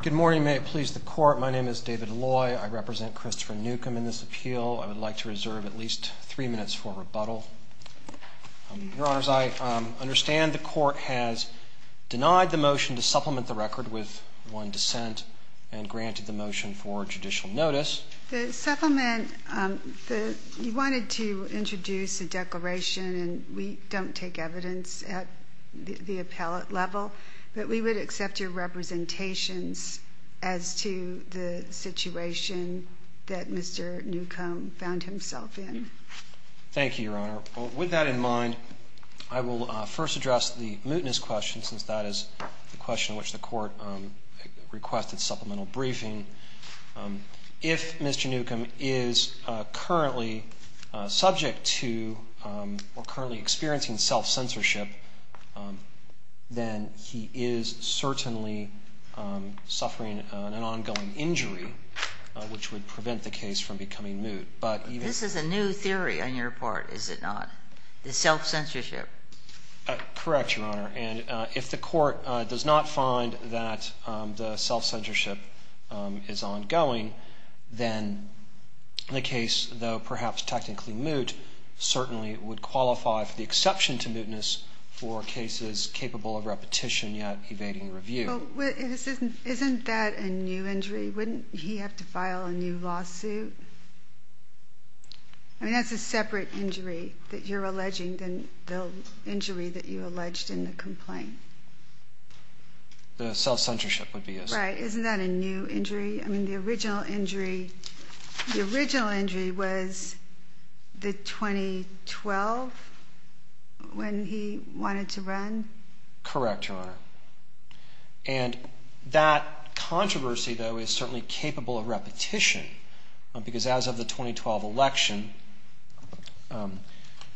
Good morning. May it please the Court, my name is David Loy. I represent Christopher Newcomb in this appeal. I would like to reserve at least three minutes for rebuttal. Your Honors, I understand the Court has denied the motion to supplement the record with one dissent and granted the motion for judicial notice. The supplement, you wanted to introduce a declaration and we don't take evidence at the appellate level, but we would accept your representations as to the situation that Mr. Newcomb found himself in. Thank you, Your Honor. With that in mind, I will first address the mootness question, since that is the question which the Court requested supplemental briefing. If Mr. Newcomb is currently subject to or currently experiencing self-censorship, then he is certainly suffering an ongoing injury, which would prevent the case from becoming moot. This is a new theory on your part, is it not? The self-censorship? Correct, Your Honor. And if the Court does not find that the self-censorship is ongoing, then the case, though perhaps technically moot, certainly would qualify for the exception to mootness for cases capable of repetition yet evading review. Well, isn't that a new injury? Wouldn't he have to file a new lawsuit? I mean, that's a separate injury that you're alleging than the injury that you alleged in the complaint. The self-censorship would be a separate injury. Right. Isn't that a new injury? I mean, the original injury was the 2012 when he wanted to run? Correct, Your Honor. And that controversy, though, is certainly capable of repetition, because as of the 2012 election,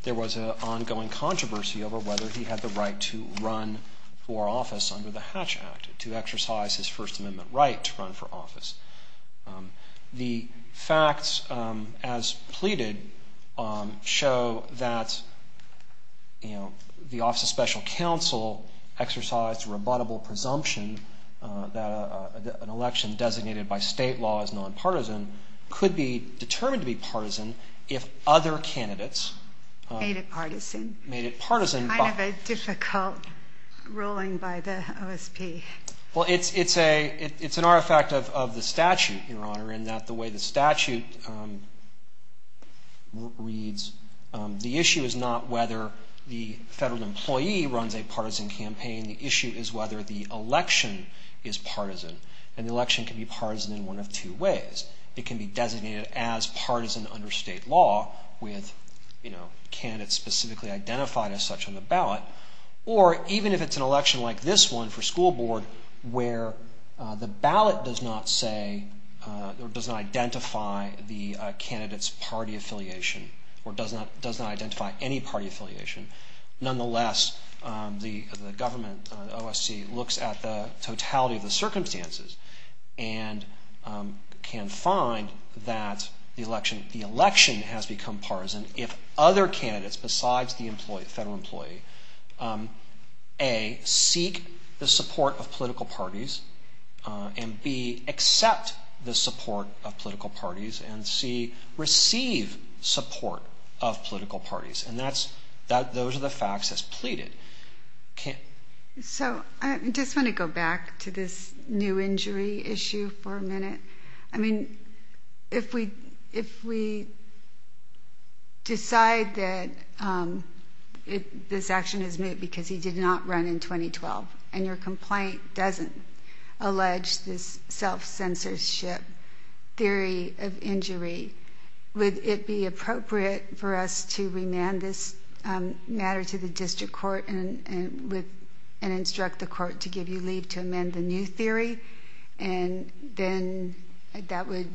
there was an ongoing controversy over whether he had the right to run for office under the Hatch Act, to exercise his First Amendment right to run for office. The facts, as pleaded, show that the Office of Special Counsel exercised a rebuttable presumption that an election designated by state law as nonpartisan could be determined to be partisan if other candidates... Made it partisan. Made it partisan. Kind of a difficult ruling by the OSP. Well, it's an artifact of the statute, Your Honor, in that the way the statute reads, the issue is not whether the federal employee runs a partisan campaign. The issue is whether the election is partisan, and the election can be partisan in one of two ways. It can be designated as partisan under state law with candidates specifically identified as such on the ballot. Or even if it's an election like this one for school board where the ballot does not say or does not identify the candidate's party affiliation or does not identify any party affiliation. Nonetheless, the government, the OSC, looks at the totality of the circumstances and can find that the election has become partisan if other candidates besides the federal employee, A, seek the support of political parties, and B, accept the support of political parties, and C, receive support of political parties. And those are the facts as pleaded. So, I just want to go back to this new injury issue for a minute. I mean, if we decide that this action is moot because he did not run in 2012 and your complaint doesn't allege this self-censorship theory of injury, would it be appropriate for us to remand this matter to the district court and instruct the court to give you leave to amend the new theory? And then that would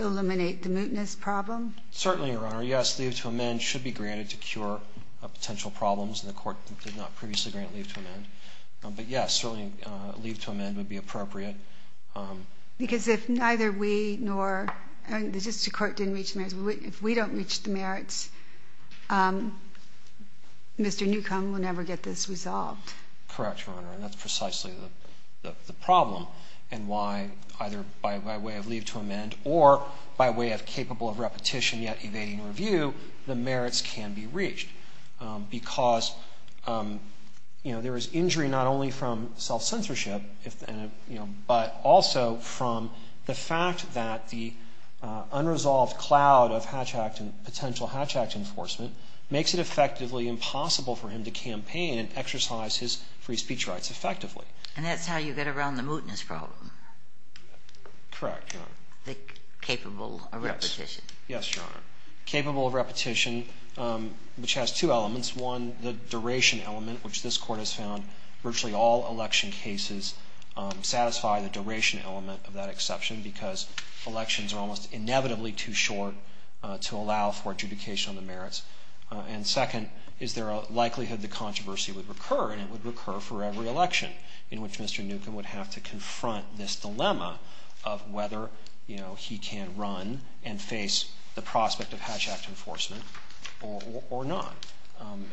eliminate the mootness problem? Certainly, Your Honor. Yes, leave to amend should be granted to cure potential problems, and the court did not previously grant leave to amend. But, yes, certainly leave to amend would be appropriate. Because if neither we nor the district court didn't reach the merits, if we don't reach the merits, Mr. Newcomb will never get this resolved. Correct, Your Honor. And that's precisely the problem and why either by way of leave to amend or by way of capable of repetition yet evading review, the merits can be reached. Because there is injury not only from self-censorship, but also from the fact that the unresolved cloud of potential hatch act enforcement makes it effectively impossible for him to campaign and exercise his free speech rights effectively. And that's how you get around the mootness problem? Correct, Your Honor. The capable of repetition? Yes, Your Honor. Capable of repetition, which has two elements. One, the duration element, which this court has found virtually all election cases satisfy the duration element of that exception because elections are almost inevitably too short to allow for adjudication on the merits. And second, is there a likelihood the controversy would recur and it would recur for every election in which Mr. Newcomb would have to confront this dilemma of whether, you know, he can run and face the prospect of hatch act enforcement or not.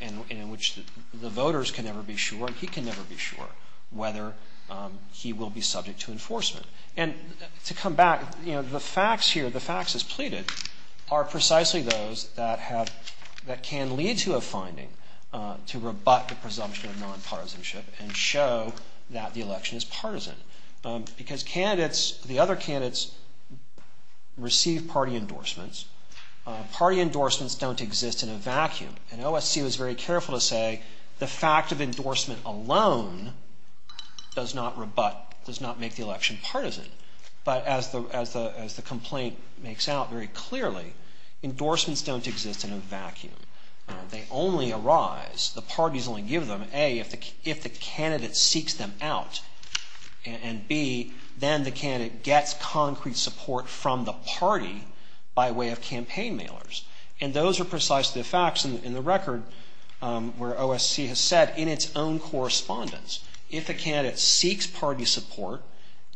And in which the voters can never be sure and he can never be sure whether he will be subject to enforcement. And to come back, you know, the facts here, the facts as pleaded are precisely those that have, that can lead to a finding to rebut the presumption of non-partisanship and show that the election is partisan. Because candidates, the other candidates receive party endorsements. Party endorsements don't exist in a vacuum. And OSC was very careful to say the fact of endorsement alone does not rebut, does not make the election partisan. But as the complaint makes out very clearly, endorsements don't exist in a vacuum. They only arise, the parties only give them, A, if the candidate seeks them out. And B, then the candidate gets concrete support from the party by way of campaign mailers. And those are precisely the facts in the record where OSC has said in its own correspondence, if a candidate seeks party support,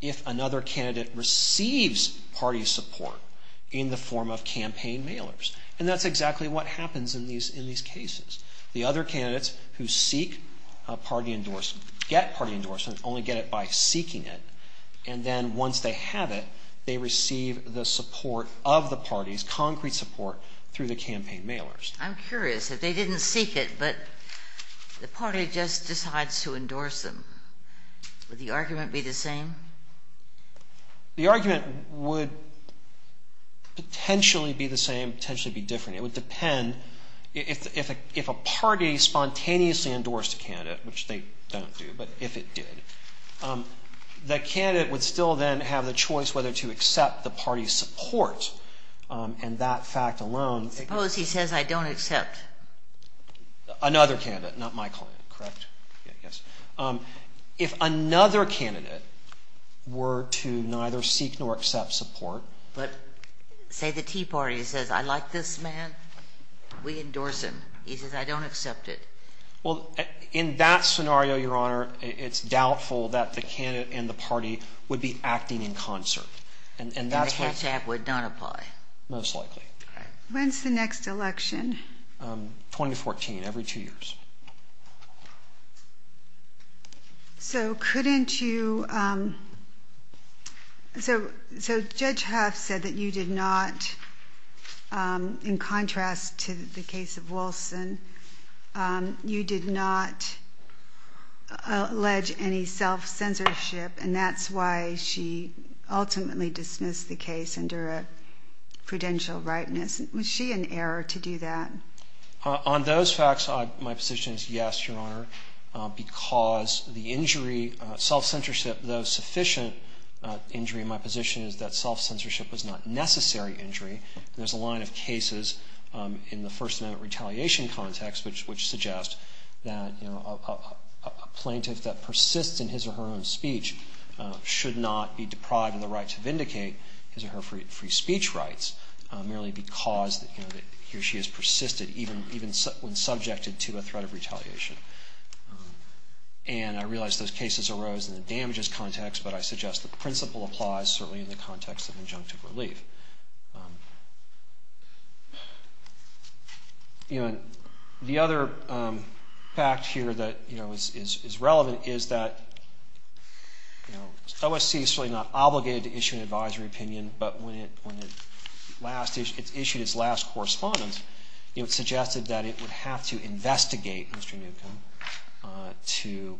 if another candidate receives party support in the form of campaign mailers. And that's exactly what happens in these cases. The other candidates who seek party endorsement get party endorsement, only get it by seeking it. And then once they have it, they receive the support of the parties, concrete support through the campaign mailers. I'm curious. If they didn't seek it, but the party just decides to endorse them, would the argument be the same? The argument would potentially be the same, potentially be different. It would depend, if a party spontaneously endorsed a candidate, which they don't do, but if it did, the candidate would still then have the choice whether to accept the party's support. And that fact alone. Suppose he says, I don't accept. Another candidate, not my client, correct? Yes. If another candidate were to neither seek nor accept support. But say the Tea Party says, I like this man, we endorse him. He says, I don't accept it. Well, in that scenario, Your Honor, it's doubtful that the candidate and the party would be acting in concert. And the catch act would not apply. Most likely. When's the next election? 2014, every two years. So couldn't you, so Judge Huff said that you did not, in contrast to the case of Wilson, you did not allege any self-censorship, and that's why she ultimately dismissed the case under a prudential rightness. Was she in error to do that? On those facts, my position is yes, Your Honor, because the injury, self-censorship, though sufficient injury, my position is that self-censorship was not necessary injury. There's a line of cases in the First Amendment retaliation context which suggests that a plaintiff that persists in his or her own speech should not be deprived of the right to vindicate his or her free speech rights merely because he or she has persisted, even when subjected to a threat of retaliation. And I realize those cases arose in the damages context, but I suggest the principle applies certainly in the context of injunctive relief. You know, the other fact here that, you know, is relevant is that, you know, OSC is really not obligated to issue an advisory opinion, but when it last, it issued its last correspondence, you know, it suggested that it would have to investigate Mr. Newcomb to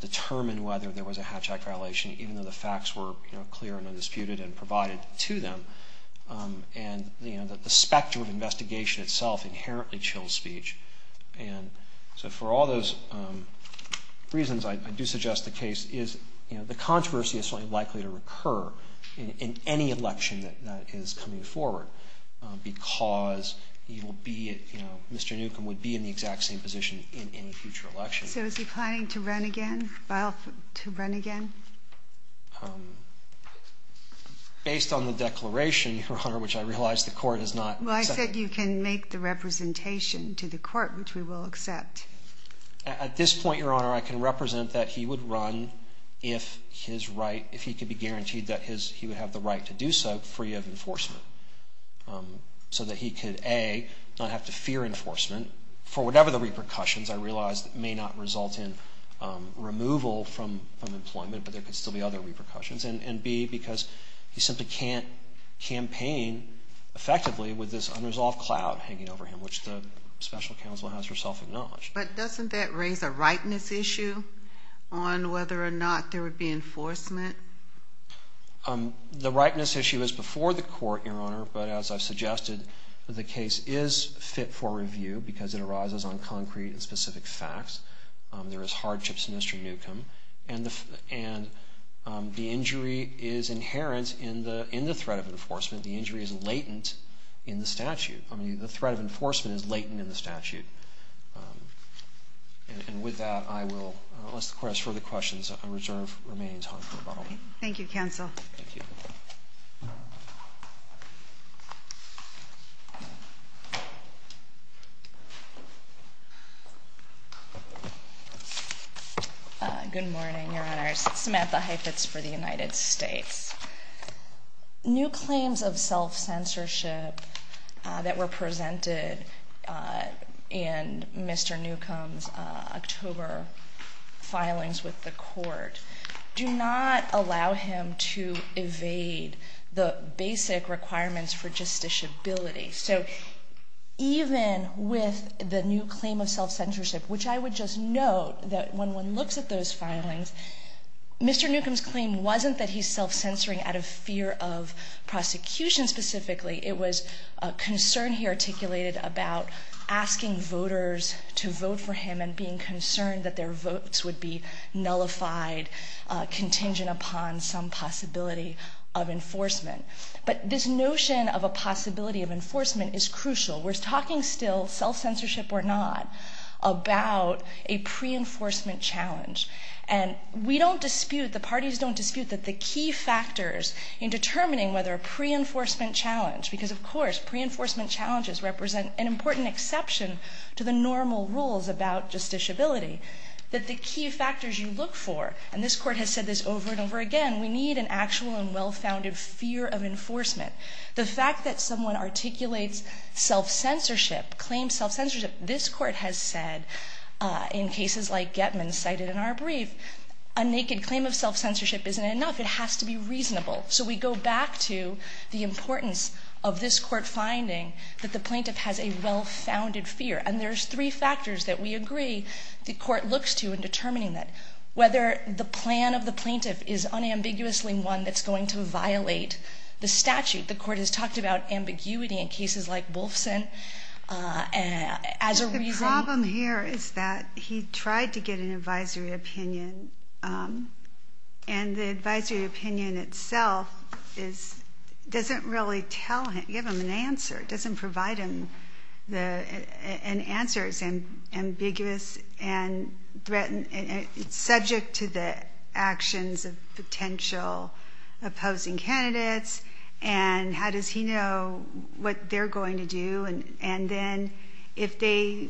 determine whether there was a hatchet violation, even though the facts were, you know, clear and undisputed and provided to them. And, you know, the spectrum of investigation itself inherently chills speech. And so for all those reasons, I do suggest the case is, you know, the controversy is certainly likely to recur in any election that is coming forward because you will be, you know, Mr. Newcomb would be in the exact same position in any future election. So is he planning to run again, file to run again? Based on the declaration, Your Honor, which I realize the court has not. Well, I said you can make the representation to the court, which we will accept. At this point, Your Honor, I can represent that he would run if his right, if he could be guaranteed that his, he would have the right to do so free of enforcement. So that he could, A, not have to fear enforcement for whatever the repercussions I realize may not result in removal from employment, but there could still be other repercussions. And B, because he simply can't campaign effectively with this unresolved cloud hanging over him, which the special counsel has herself acknowledged. But doesn't that raise a rightness issue on whether or not there would be enforcement? The rightness issue is before the court, Your Honor. But as I've suggested, the case is fit for review because it arises on concrete and specific facts. There is hardships in Mr. Newcomb. And the injury is inherent in the threat of enforcement. The injury is latent in the statute. I mean, the threat of enforcement is latent in the statute. And with that, I will, unless the court has further questions, I reserve remaining time for rebuttal. Thank you, counsel. Thank you. Good morning, Your Honors. Samantha Heifetz for the United States. New claims of self-censorship that were presented in Mr. Newcomb's October filings with the court do not allow him to evade the basic requirements for justiciability. So even with the new claim of self-censorship, which I would just note that when one looks at those filings, Mr. Newcomb's claim wasn't that he's self-censoring out of fear of prosecution specifically. It was a concern he articulated about asking voters to vote for him and being concerned that their votes would be nullified, contingent upon some possibility of enforcement. But this notion of a possibility of enforcement is crucial. We're talking still, self-censorship or not, about a pre-enforcement challenge. And we don't dispute, the parties don't dispute that the key factors in determining whether a pre-enforcement challenge, because, of course, pre-enforcement challenges represent an important exception to the normal rules about justiciability, that the key factors you look for, and this court has said this over and over again, we need an actual and well-founded fear of enforcement. The fact that someone articulates self-censorship, claims self-censorship, this court has said in cases like Getman's cited in our brief, a naked claim of self-censorship isn't enough. It has to be reasonable. So we go back to the importance of this court finding that the plaintiff has a well-founded fear. And there's three factors that we agree the court looks to in determining that, whether the plan of the plaintiff is unambiguously one that's going to violate the statute. The court has talked about ambiguity in cases like Wolfson as a reason. The problem here is that he tried to get an advisory opinion, and the advisory opinion itself doesn't really give him an answer. It doesn't provide him an answer. It's ambiguous and threatened. It's subject to the actions of potential opposing candidates. And how does he know what they're going to do? And then if they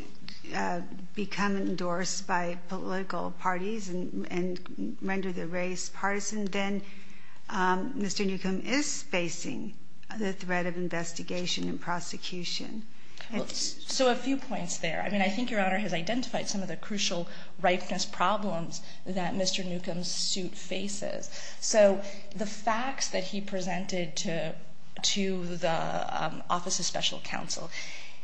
become endorsed by political parties and render the race partisan, then Mr. Newcomb is facing the threat of investigation and prosecution. So a few points there. I mean, I think Your Honor has identified some of the crucial ripeness problems that Mr. Newcomb's suit faces. So the facts that he presented to the Office of Special Counsel,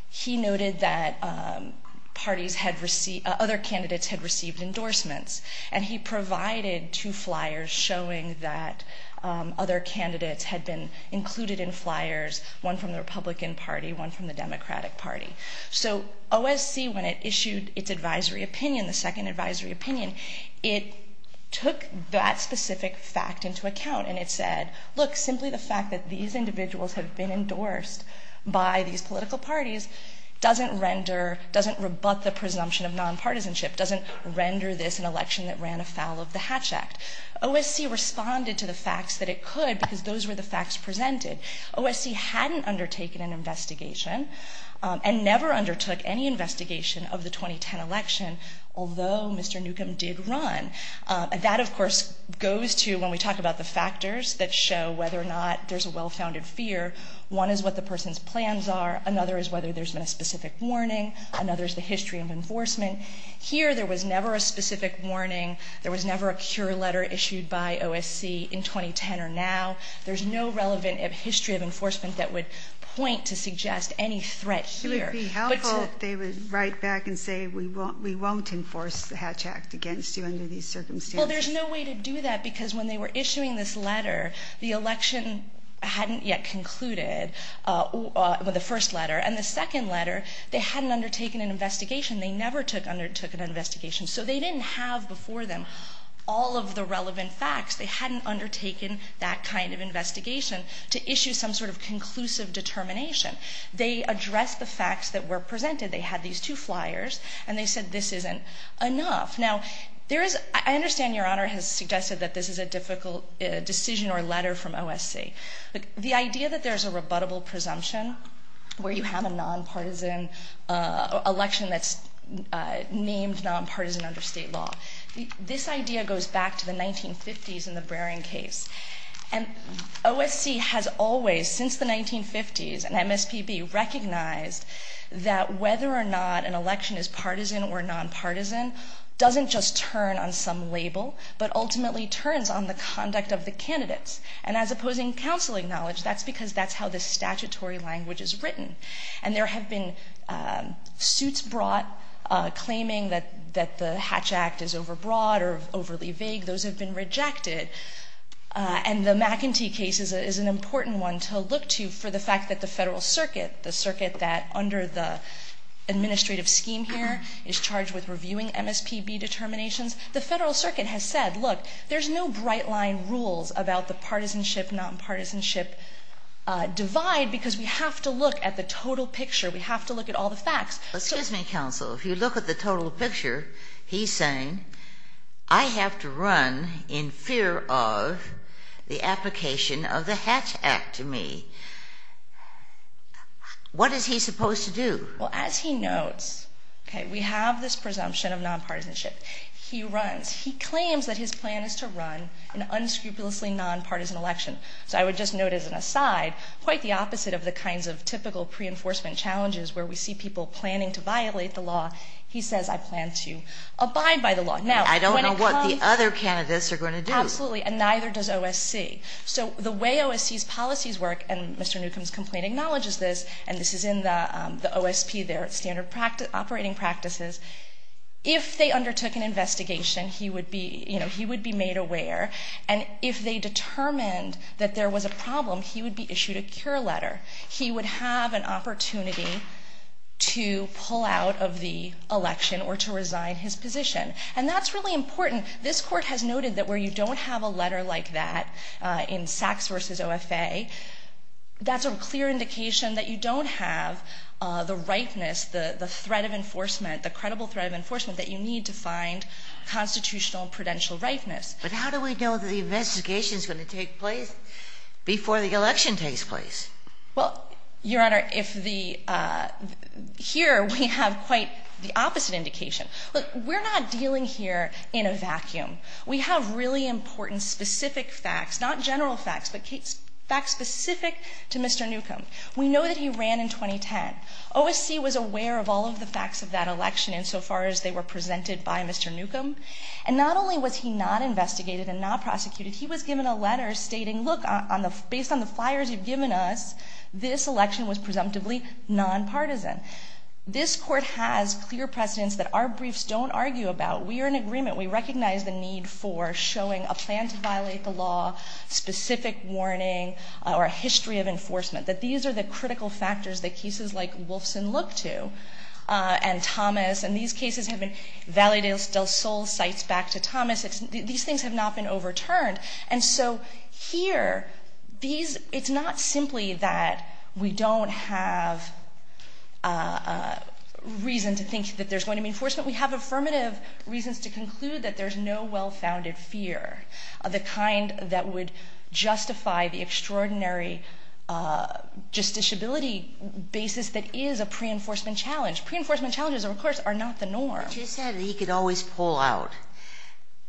he noted that other candidates had received endorsements. And he provided two flyers showing that other candidates had been included in flyers, one from the Republican Party, one from the Democratic Party. So OSC, when it issued its advisory opinion, the second advisory opinion, it took that specific fact into account and it said, look, simply the fact that these individuals have been endorsed by these political parties doesn't render, doesn't rebut the presumption of nonpartisanship, doesn't render this an election that ran afoul of the Hatch Act. OSC responded to the facts that it could because those were the facts presented. OSC hadn't undertaken an investigation and never undertook any investigation of the 2010 election, although Mr. Newcomb did run. That, of course, goes to when we talk about the factors that show whether or not there's a well-founded fear. One is what the person's plans are. Another is whether there's been a specific warning. Another is the history of enforcement. Here there was never a specific warning. There was never a cure letter issued by OSC in 2010 or now. There's no relevant history of enforcement that would point to suggest any threat here. It would be helpful if they would write back and say we won't enforce the Hatch Act against you under these circumstances. Well, there's no way to do that because when they were issuing this letter, the election hadn't yet concluded with the first letter. And the second letter, they hadn't undertaken an investigation. They never undertook an investigation. So they didn't have before them all of the relevant facts. They hadn't undertaken that kind of investigation to issue some sort of conclusive determination. They addressed the facts that were presented. They had these two flyers, and they said this isn't enough. Now, there is ‑‑ I understand Your Honor has suggested that this is a difficult decision or letter from OSC. The idea that there's a rebuttable presumption where you have a nonpartisan election that's named nonpartisan under state law, this idea goes back to the 1950s and the Brering case. And OSC has always, since the 1950s, and MSPB, recognized that whether or not an election is partisan or nonpartisan doesn't just turn on some label, but ultimately turns on the conduct of the candidates. And as opposing counsel acknowledged, that's because that's how the statutory language is written. And there have been suits brought claiming that the Hatch Act is overbroad or overly vague. Those have been rejected. And the McEntee case is an important one to look to for the fact that the Federal Circuit, the circuit that under the administrative scheme here is charged with reviewing MSPB determinations, the Federal Circuit has said, look, there's no bright line rules about the partisanship, nonpartisanship divide because we have to look at the total picture. We have to look at all the facts. Excuse me, counsel. If you look at the total picture, he's saying I have to run in fear of the application of the Hatch Act to me. What is he supposed to do? Well, as he notes, okay, we have this presumption of nonpartisanship. He runs. He claims that his plan is to run an unscrupulously nonpartisan election. So I would just note as an aside, quite the opposite of the kinds of typical pre-enforcement challenges where we see people planning to violate the law, he says I plan to abide by the law. I don't know what the other candidates are going to do. Absolutely, and neither does OSC. So the way OSC's policies work, and Mr. Newcomb's complaint acknowledges this, and this is in the OSP there, standard operating practices, if they undertook an investigation, he would be made aware. And if they determined that there was a problem, he would be issued a cure letter. He would have an opportunity to pull out of the election or to resign his position. And that's really important. This Court has noted that where you don't have a letter like that in Sachs v. OFA, that's a clear indication that you don't have the ripeness, the threat of enforcement, the credible threat of enforcement that you need to find constitutional prudential ripeness. But how do we know that the investigation is going to take place before the election takes place? Well, Your Honor, here we have quite the opposite indication. Look, we're not dealing here in a vacuum. We have really important specific facts, not general facts, but facts specific to Mr. Newcomb. We know that he ran in 2010. OSC was aware of all of the facts of that election insofar as they were presented by Mr. Newcomb. And not only was he not investigated and not prosecuted, he was given a letter stating, look, based on the flyers you've given us, this election was presumptively nonpartisan. This Court has clear precedents that our briefs don't argue about. We are in agreement. We recognize the need for showing a plan to violate the law, specific warning, or a history of enforcement, that these are the critical factors that cases like Wolfson look to and Thomas. And these cases have been Valedictus del Sol cites back to Thomas. These things have not been overturned. And so here, it's not simply that we don't have reason to think that there's going to be enforcement. We have affirmative reasons to conclude that there's no well-founded fear, the kind that would justify the extraordinary justiciability basis that is a pre-enforcement challenge. Pre-enforcement challenges, of course, are not the norm. But you said that he could always pull out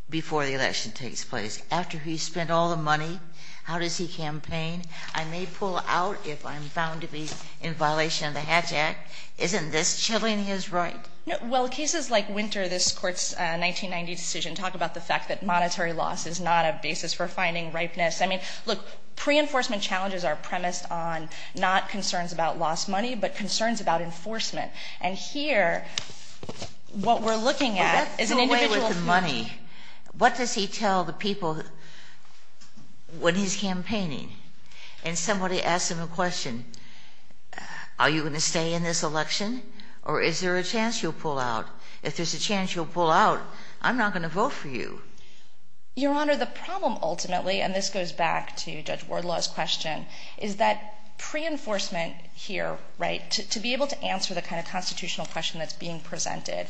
before the election takes place. After he's spent all the money, how does he campaign? I may pull out if I'm found to be in violation of the Hatch Act. Isn't this chilling his right? Well, cases like Winter, this Court's 1990 decision, talk about the fact that monetary loss is not a basis for finding ripeness. I mean, look, pre-enforcement challenges are premised on not concerns about lost money, but concerns about enforcement. And here, what we're looking at is an individual's future. But that's the way with the money. What does he tell the people when he's campaigning? And somebody asks him a question. Are you going to stay in this election, or is there a chance you'll pull out? If there's a chance you'll pull out, I'm not going to vote for you. Your Honor, the problem ultimately, and this goes back to Judge Wardlaw's question, is that pre-enforcement here, right, to be able to answer the kind of constitutional question that's being presented,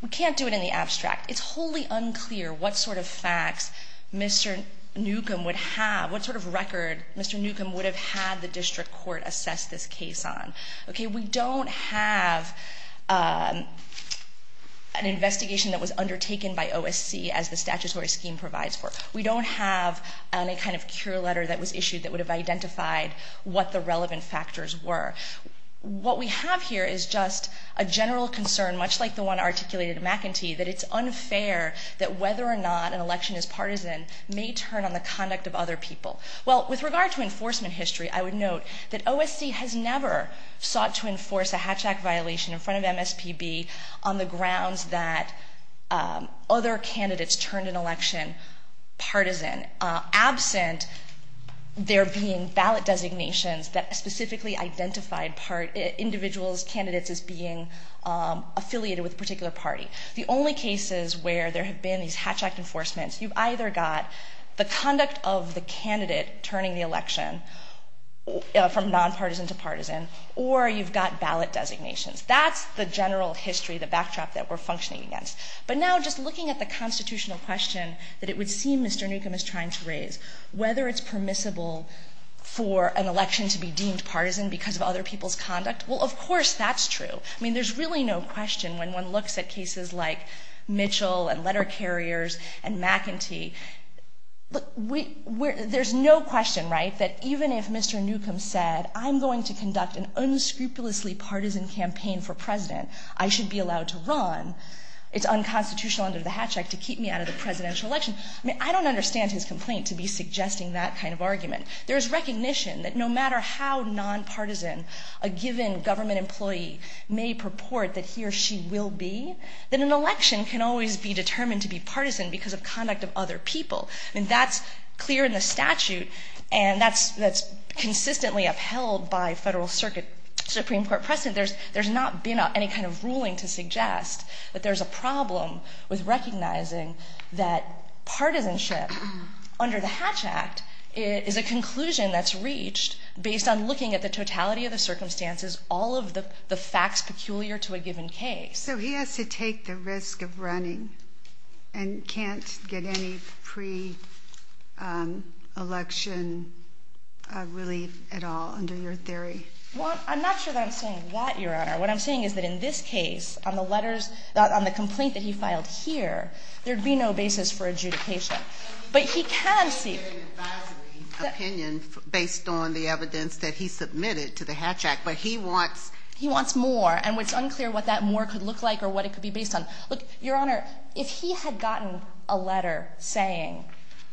we can't do it in the abstract. It's wholly unclear what sort of facts Mr. Newcomb would have, what sort of record Mr. Newcomb would have had the district court assess this case on. Okay, we don't have an investigation that was undertaken by OSC, as the statutory scheme provides for. We don't have any kind of cure letter that was issued that would have identified what the relevant factors were. What we have here is just a general concern, much like the one articulated at McEntee, that it's unfair that whether or not an election is partisan may turn on the conduct of other people. Well, with regard to enforcement history, I would note that OSC has never sought to enforce a hatchback violation in front of MSPB on the grounds that other candidates turned an election partisan, absent there being ballot designations that specifically identified individuals, candidates, as being affiliated with a particular party. The only cases where there have been these hatchback enforcements, you've either got the conduct of the candidate turning the election from nonpartisan to partisan, or you've got ballot designations. That's the general history, the backdrop that we're functioning against. But now, just looking at the constitutional question that it would seem Mr. Newcomb is trying to raise, whether it's permissible for an election to be deemed partisan because of other people's conduct, well, of course that's true. I mean, there's really no question when one looks at cases like Mitchell and letter carriers and McEntee, there's no question, right, that even if Mr. Newcomb said, I'm going to conduct an unscrupulously partisan campaign for president. I should be allowed to run. It's unconstitutional under the Hatch Act to keep me out of the presidential election. I mean, I don't understand his complaint to be suggesting that kind of argument. There's recognition that no matter how nonpartisan a given government employee may purport that he or she will be, that an election can always be determined to be partisan because of conduct of other people. I mean, that's clear in the statute, and that's consistently upheld by federal circuit Supreme Court precedent. There's not been any kind of ruling to suggest that there's a problem with recognizing that partisanship under the Hatch Act is a conclusion that's reached based on looking at the totality of the circumstances, all of the facts peculiar to a given case. So he has to take the risk of running and can't get any pre-election relief at all under your theory? Well, I'm not sure that I'm saying that, Your Honor. What I'm saying is that in this case, on the letters, on the complaint that he filed here, there'd be no basis for adjudication. But he can seek an advisory opinion based on the evidence that he submitted to the Hatch Act, but he wants more, and it's unclear what that more could look like or what it could be based on. Look, Your Honor, if he had gotten a letter saying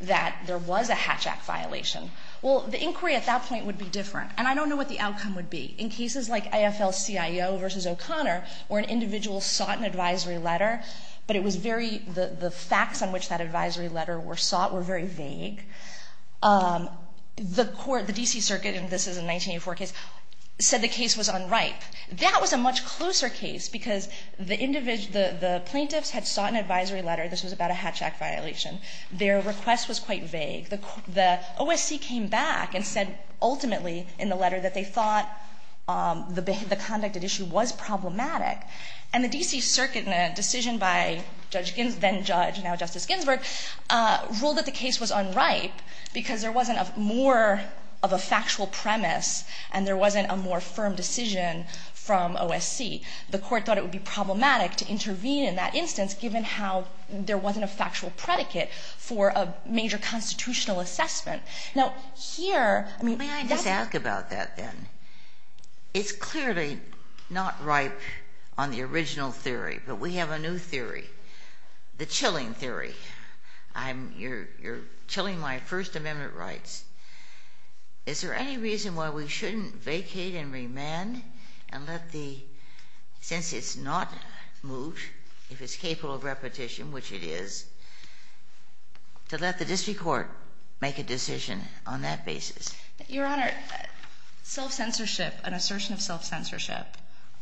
that there was a Hatch Act violation, well, the inquiry at that point would be different, and I don't know what the outcome would be. In cases like AFL-CIO v. O'Connor, where an individual sought an advisory letter, but the facts on which that advisory letter was sought were very vague. The court, the D.C. Circuit, and this is a 1984 case, said the case was unripe. That was a much closer case because the plaintiffs had sought an advisory letter. This was about a Hatch Act violation. Their request was quite vague. The OSC came back and said, ultimately, in the letter, that they thought the conduct at issue was problematic. And the D.C. Circuit, in a decision by then-Judge, now Justice Ginsburg, ruled that the case was unripe because there wasn't more of a factual premise and there wasn't a more firm decision from OSC. The court thought it would be problematic to intervene in that instance given how there wasn't a factual predicate for a major constitutional assessment. Now, here, I mean, that's- May I just ask about that, then? It's clearly not ripe on the original theory, but we have a new theory, the chilling theory. You're chilling my First Amendment rights. Is there any reason why we shouldn't vacate and remand and let the- since it's not moved, if it's capable of repetition, which it is, to let the district court make a decision on that basis? Your Honor, self-censorship, an assertion of self-censorship,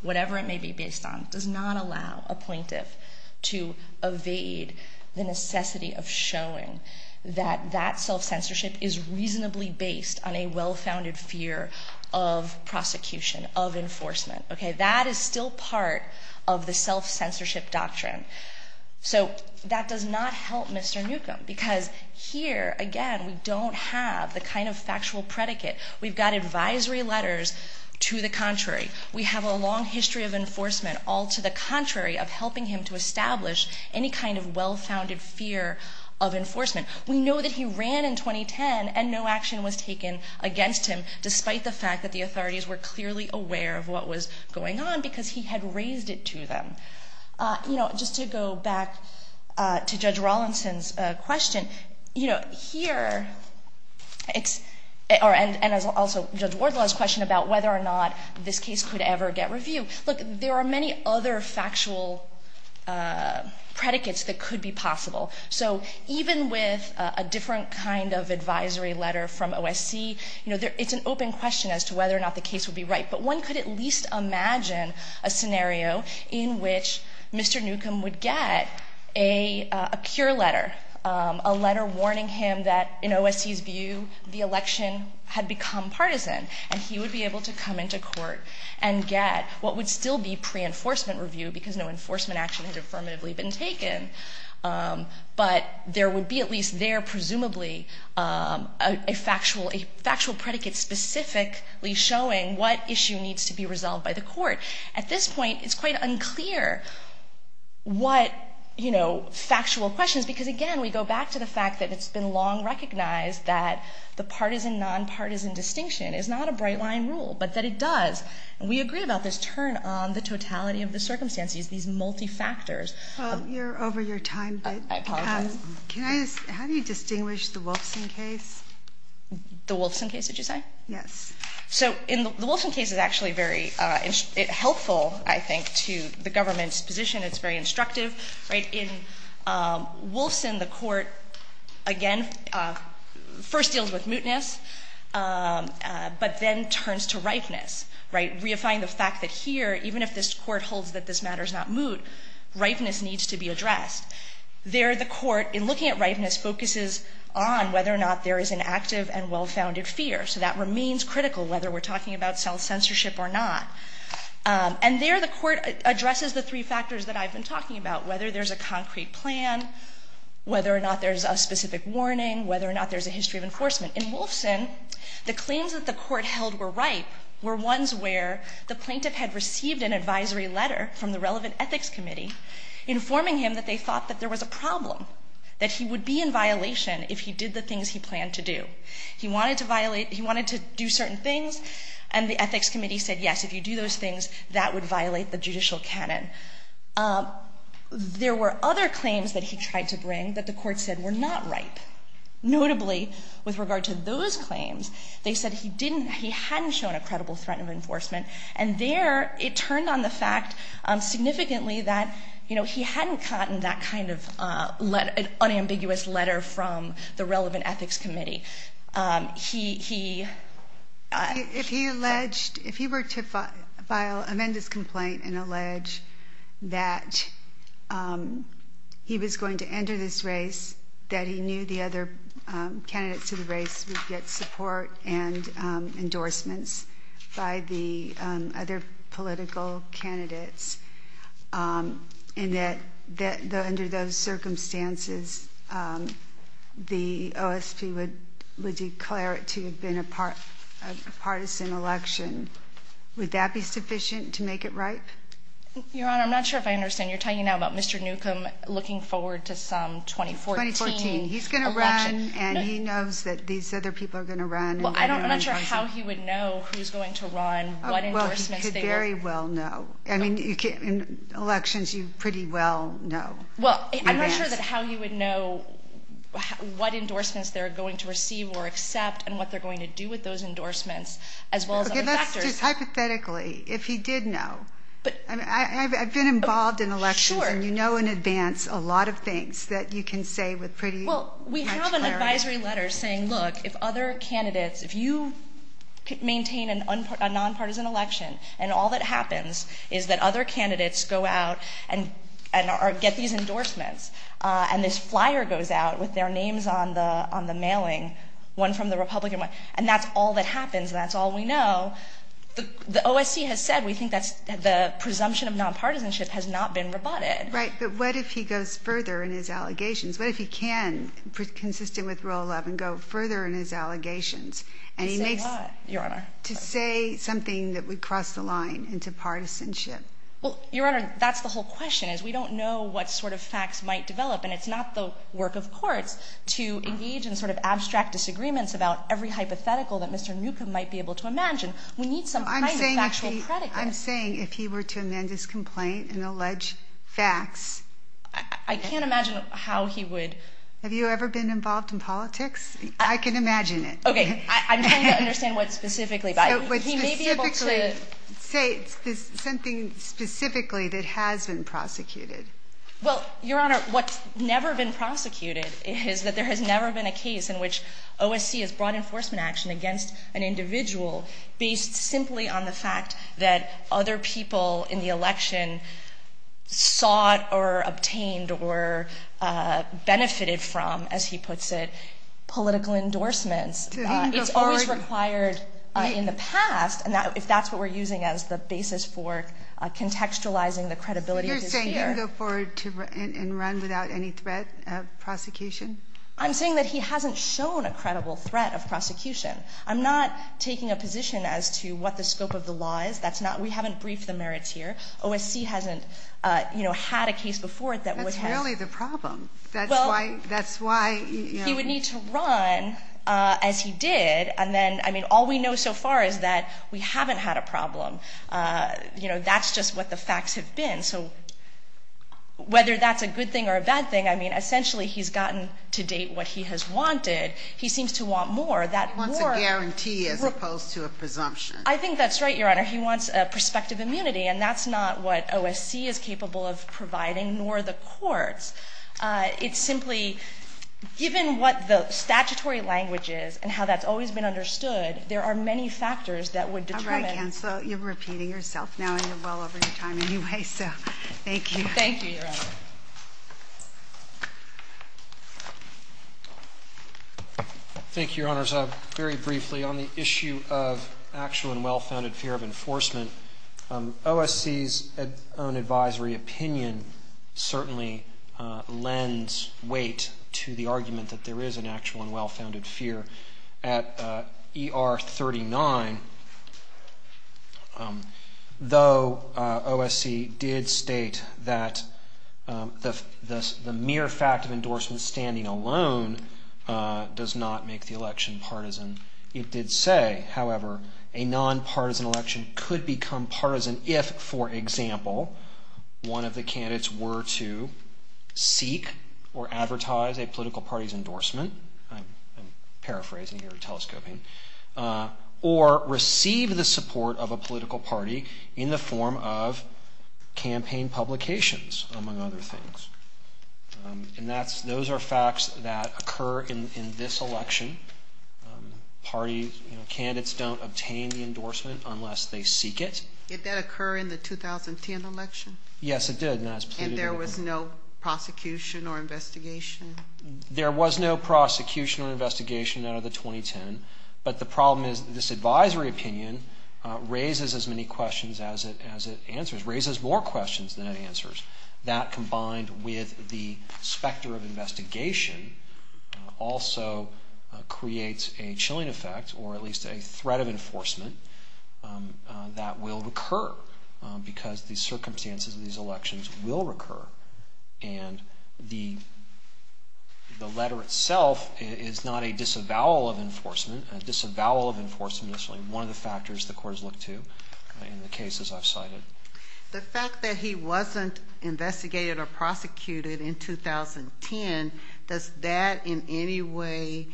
whatever it may be based on, does not allow a plaintiff to evade the necessity of showing that that self-censorship is reasonably based on a well-founded fear of prosecution, of enforcement. That is still part of the self-censorship doctrine. So that does not help Mr. Newcomb because here, again, we don't have the kind of factual predicate. We've got advisory letters to the contrary. We have a long history of enforcement, all to the contrary, of helping him to establish any kind of well-founded fear of enforcement. We know that he ran in 2010 and no action was taken against him, despite the fact that the authorities were clearly aware of what was going on because he had raised it to them. Just to go back to Judge Rawlinson's question, here it's- Look, there are many other factual predicates that could be possible. So even with a different kind of advisory letter from OSC, it's an open question as to whether or not the case would be right, but one could at least imagine a scenario in which Mr. Newcomb would get a cure letter, a letter warning him that in OSC's view, the election had become partisan and he would be able to come into court and get what would still be pre-enforcement review because no enforcement action had affirmatively been taken, but there would be at least there presumably a factual predicate specifically showing what issue needs to be resolved by the court. At this point, it's quite unclear what factual questions- because again, we go back to the fact that it's been long recognized that the partisan-nonpartisan distinction is not a bright line rule, but that it does. And we agree about this turn on the totality of the circumstances, these multi-factors. Well, you're over your time. I apologize. How do you distinguish the Wolfson case? The Wolfson case, did you say? Yes. So the Wolfson case is actually very helpful, I think, to the government's position. It's very instructive. In Wolfson, the court, again, first deals with mootness, but then turns to ripeness, reifying the fact that here, even if this court holds that this matter is not moot, ripeness needs to be addressed. There, the court, in looking at ripeness, focuses on whether or not there is an active and well-founded fear. So that remains critical whether we're talking about self-censorship or not. And there, the court addresses the three factors that I've been talking about, whether there's a concrete plan, whether or not there's a specific warning, whether or not there's a history of enforcement. In Wolfson, the claims that the court held were ripe were ones where the plaintiff had received an advisory letter from the relevant ethics committee informing him that they thought that there was a problem, that he would be in violation if he did the things he planned to do. He wanted to do certain things, and the ethics committee said, yes, if you do those things, that would violate the judicial canon. There were other claims that he tried to bring that the court said were not ripe. Notably, with regard to those claims, they said he didn't, he hadn't shown a credible threat of enforcement. And there, it turned on the fact significantly that, you know, he hadn't gotten that kind of unambiguous letter from the relevant ethics committee. He, he... If he were to file, amend his complaint and allege that he was going to enter this race, that he knew the other candidates to the race would get support and endorsements by the other political candidates, and that under those circumstances, the OSP would declare it to have been a partisan election, would that be sufficient to make it ripe? Your Honor, I'm not sure if I understand. You're talking now about Mr. Newcomb looking forward to some 2014 election. 2014. He's going to run, and he knows that these other people are going to run. Well, I'm not sure how he would know who's going to run, what endorsements they would... Well, he could very well know. I mean, in elections, you pretty well know. Well, I'm not sure that how he would know what endorsements they're going to receive or accept and what they're going to do with those endorsements, as well as other factors. Okay, let's just hypothetically, if he did know. But... I mean, I've been involved in elections, and you know in advance a lot of things that you can say with pretty much clarity. Well, we have an advisory letter saying, look, if other candidates, if you maintain a nonpartisan election, and all that happens is that other candidates go out and get these endorsements, and this flyer goes out with their names on the mailing, one from the Republican one. And that's all that happens, and that's all we know. The OSC has said we think that the presumption of nonpartisanship has not been rebutted. Right, but what if he goes further in his allegations? What if he can, consistent with Rule 11, go further in his allegations? To say what, Your Honor? To say something that would cross the line into partisanship. Well, Your Honor, that's the whole question, is we don't know what sort of facts might develop, and it's not the work of courts to engage in sort of abstract disagreements about every hypothetical that Mr. Newcomb might be able to imagine. We need some kind of factual predicate. I'm saying if he were to amend his complaint and allege facts... I can't imagine how he would... Have you ever been involved in politics? I can imagine it. Okay, I'm trying to understand what specifically. He may be able to say something specifically that has been prosecuted. Well, Your Honor, what's never been prosecuted is that there has never been a case in which OSC has brought enforcement action against an individual based simply on the fact that other people in the election sought or obtained or benefited from, as he puts it, political endorsements. It's always required in the past, if that's what we're using as the basis for contextualizing the credibility of this year. So you're saying go forward and run without any threat of prosecution? I'm saying that he hasn't shown a credible threat of prosecution. I'm not taking a position as to what the scope of the law is. We haven't briefed the merits here. OSC hasn't had a case before that would have... That's really the problem. That's why... He would need to run as he did. And then, I mean, all we know so far is that we haven't had a problem. You know, that's just what the facts have been. So whether that's a good thing or a bad thing, I mean, essentially he's gotten to date what he has wanted. He seems to want more. That more... He wants a guarantee as opposed to a presumption. I think that's right, Your Honor. He wants prospective immunity. And that's not what OSC is capable of providing, nor the courts. It's simply, given what the statutory language is and how that's always been understood, there are many factors that would determine... All right, Counselor. You're repeating yourself now, and you're well over your time anyway, so thank you. Thank you, Your Honor. Thank you, Your Honors. Very briefly, on the issue of actual and well-founded fear of enforcement, OSC's own advisory opinion certainly lends weight to the argument that there is an actual and well-founded fear. At ER 39, though OSC did state that the mere fact of endorsement standing alone does not make the election partisan, it did say, however, a non-partisan election could become partisan if, for example, one of the candidates were to seek or advertise a political party's endorsement. I'm paraphrasing here, telescoping. Or receive the support of a political party in the form of campaign publications, among other things. And those are facts that occur in this election. Party candidates don't obtain the endorsement unless they seek it. Did that occur in the 2010 election? Yes, it did. And there was no prosecution or investigation? There was no prosecution or investigation out of the 2010. But the problem is this advisory opinion raises as many questions as it answers. Raises more questions than it answers. That, combined with the specter of investigation, also creates a chilling effect, or at least a threat of enforcement, that will recur because the circumstances of these elections will recur. And the letter itself is not a disavowal of enforcement. A disavowal of enforcement is really one of the factors the courts look to in the cases I've cited. The fact that he wasn't investigated or prosecuted in 2010 does that in any way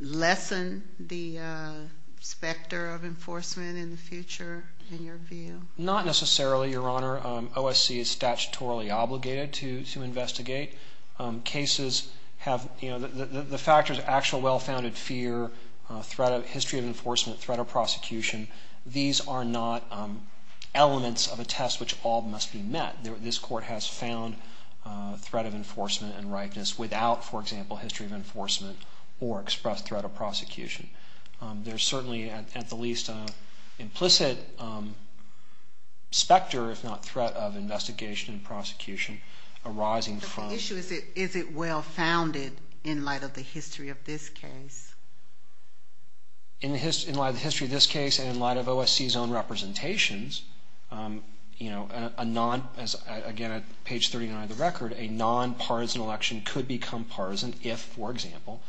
lessen the specter of enforcement in the future, in your view? Not necessarily, Your Honor. OSC is statutorily obligated to investigate. Cases have, you know, the factors of actual well-founded fear, threat of history of enforcement, threat of prosecution, these are not elements of a test which all must be met. This Court has found threat of enforcement and ripeness without, for example, history of enforcement or expressed threat of prosecution. There's certainly, at the least, an implicit specter, if not threat of investigation and prosecution arising from... But the issue is, is it well-founded in light of the history of this case? In light of the history of this case and in light of OSC's own representations, you know, a non... Again, at page 39 of the record, a nonpartisan election could become partisan if, for example,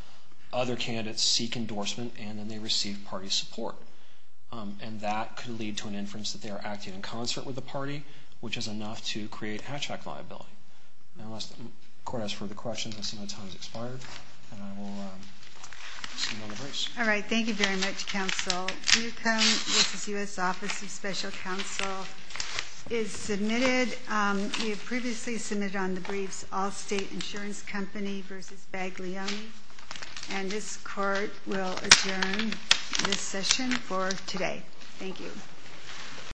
other candidates seek endorsement and then they receive party support. And that could lead to an inference that they are acting in concert with the party, which is enough to create hatchback liability. Now, unless the Court has further questions, I see my time has expired, and I will see you on the horse. All right, thank you very much, Counsel. Newcombe v. U.S. Office of Special Counsel is submitted. We have previously submitted on the briefs Allstate Insurance Company v. Baglioni, and this Court will adjourn this session for today. Thank you.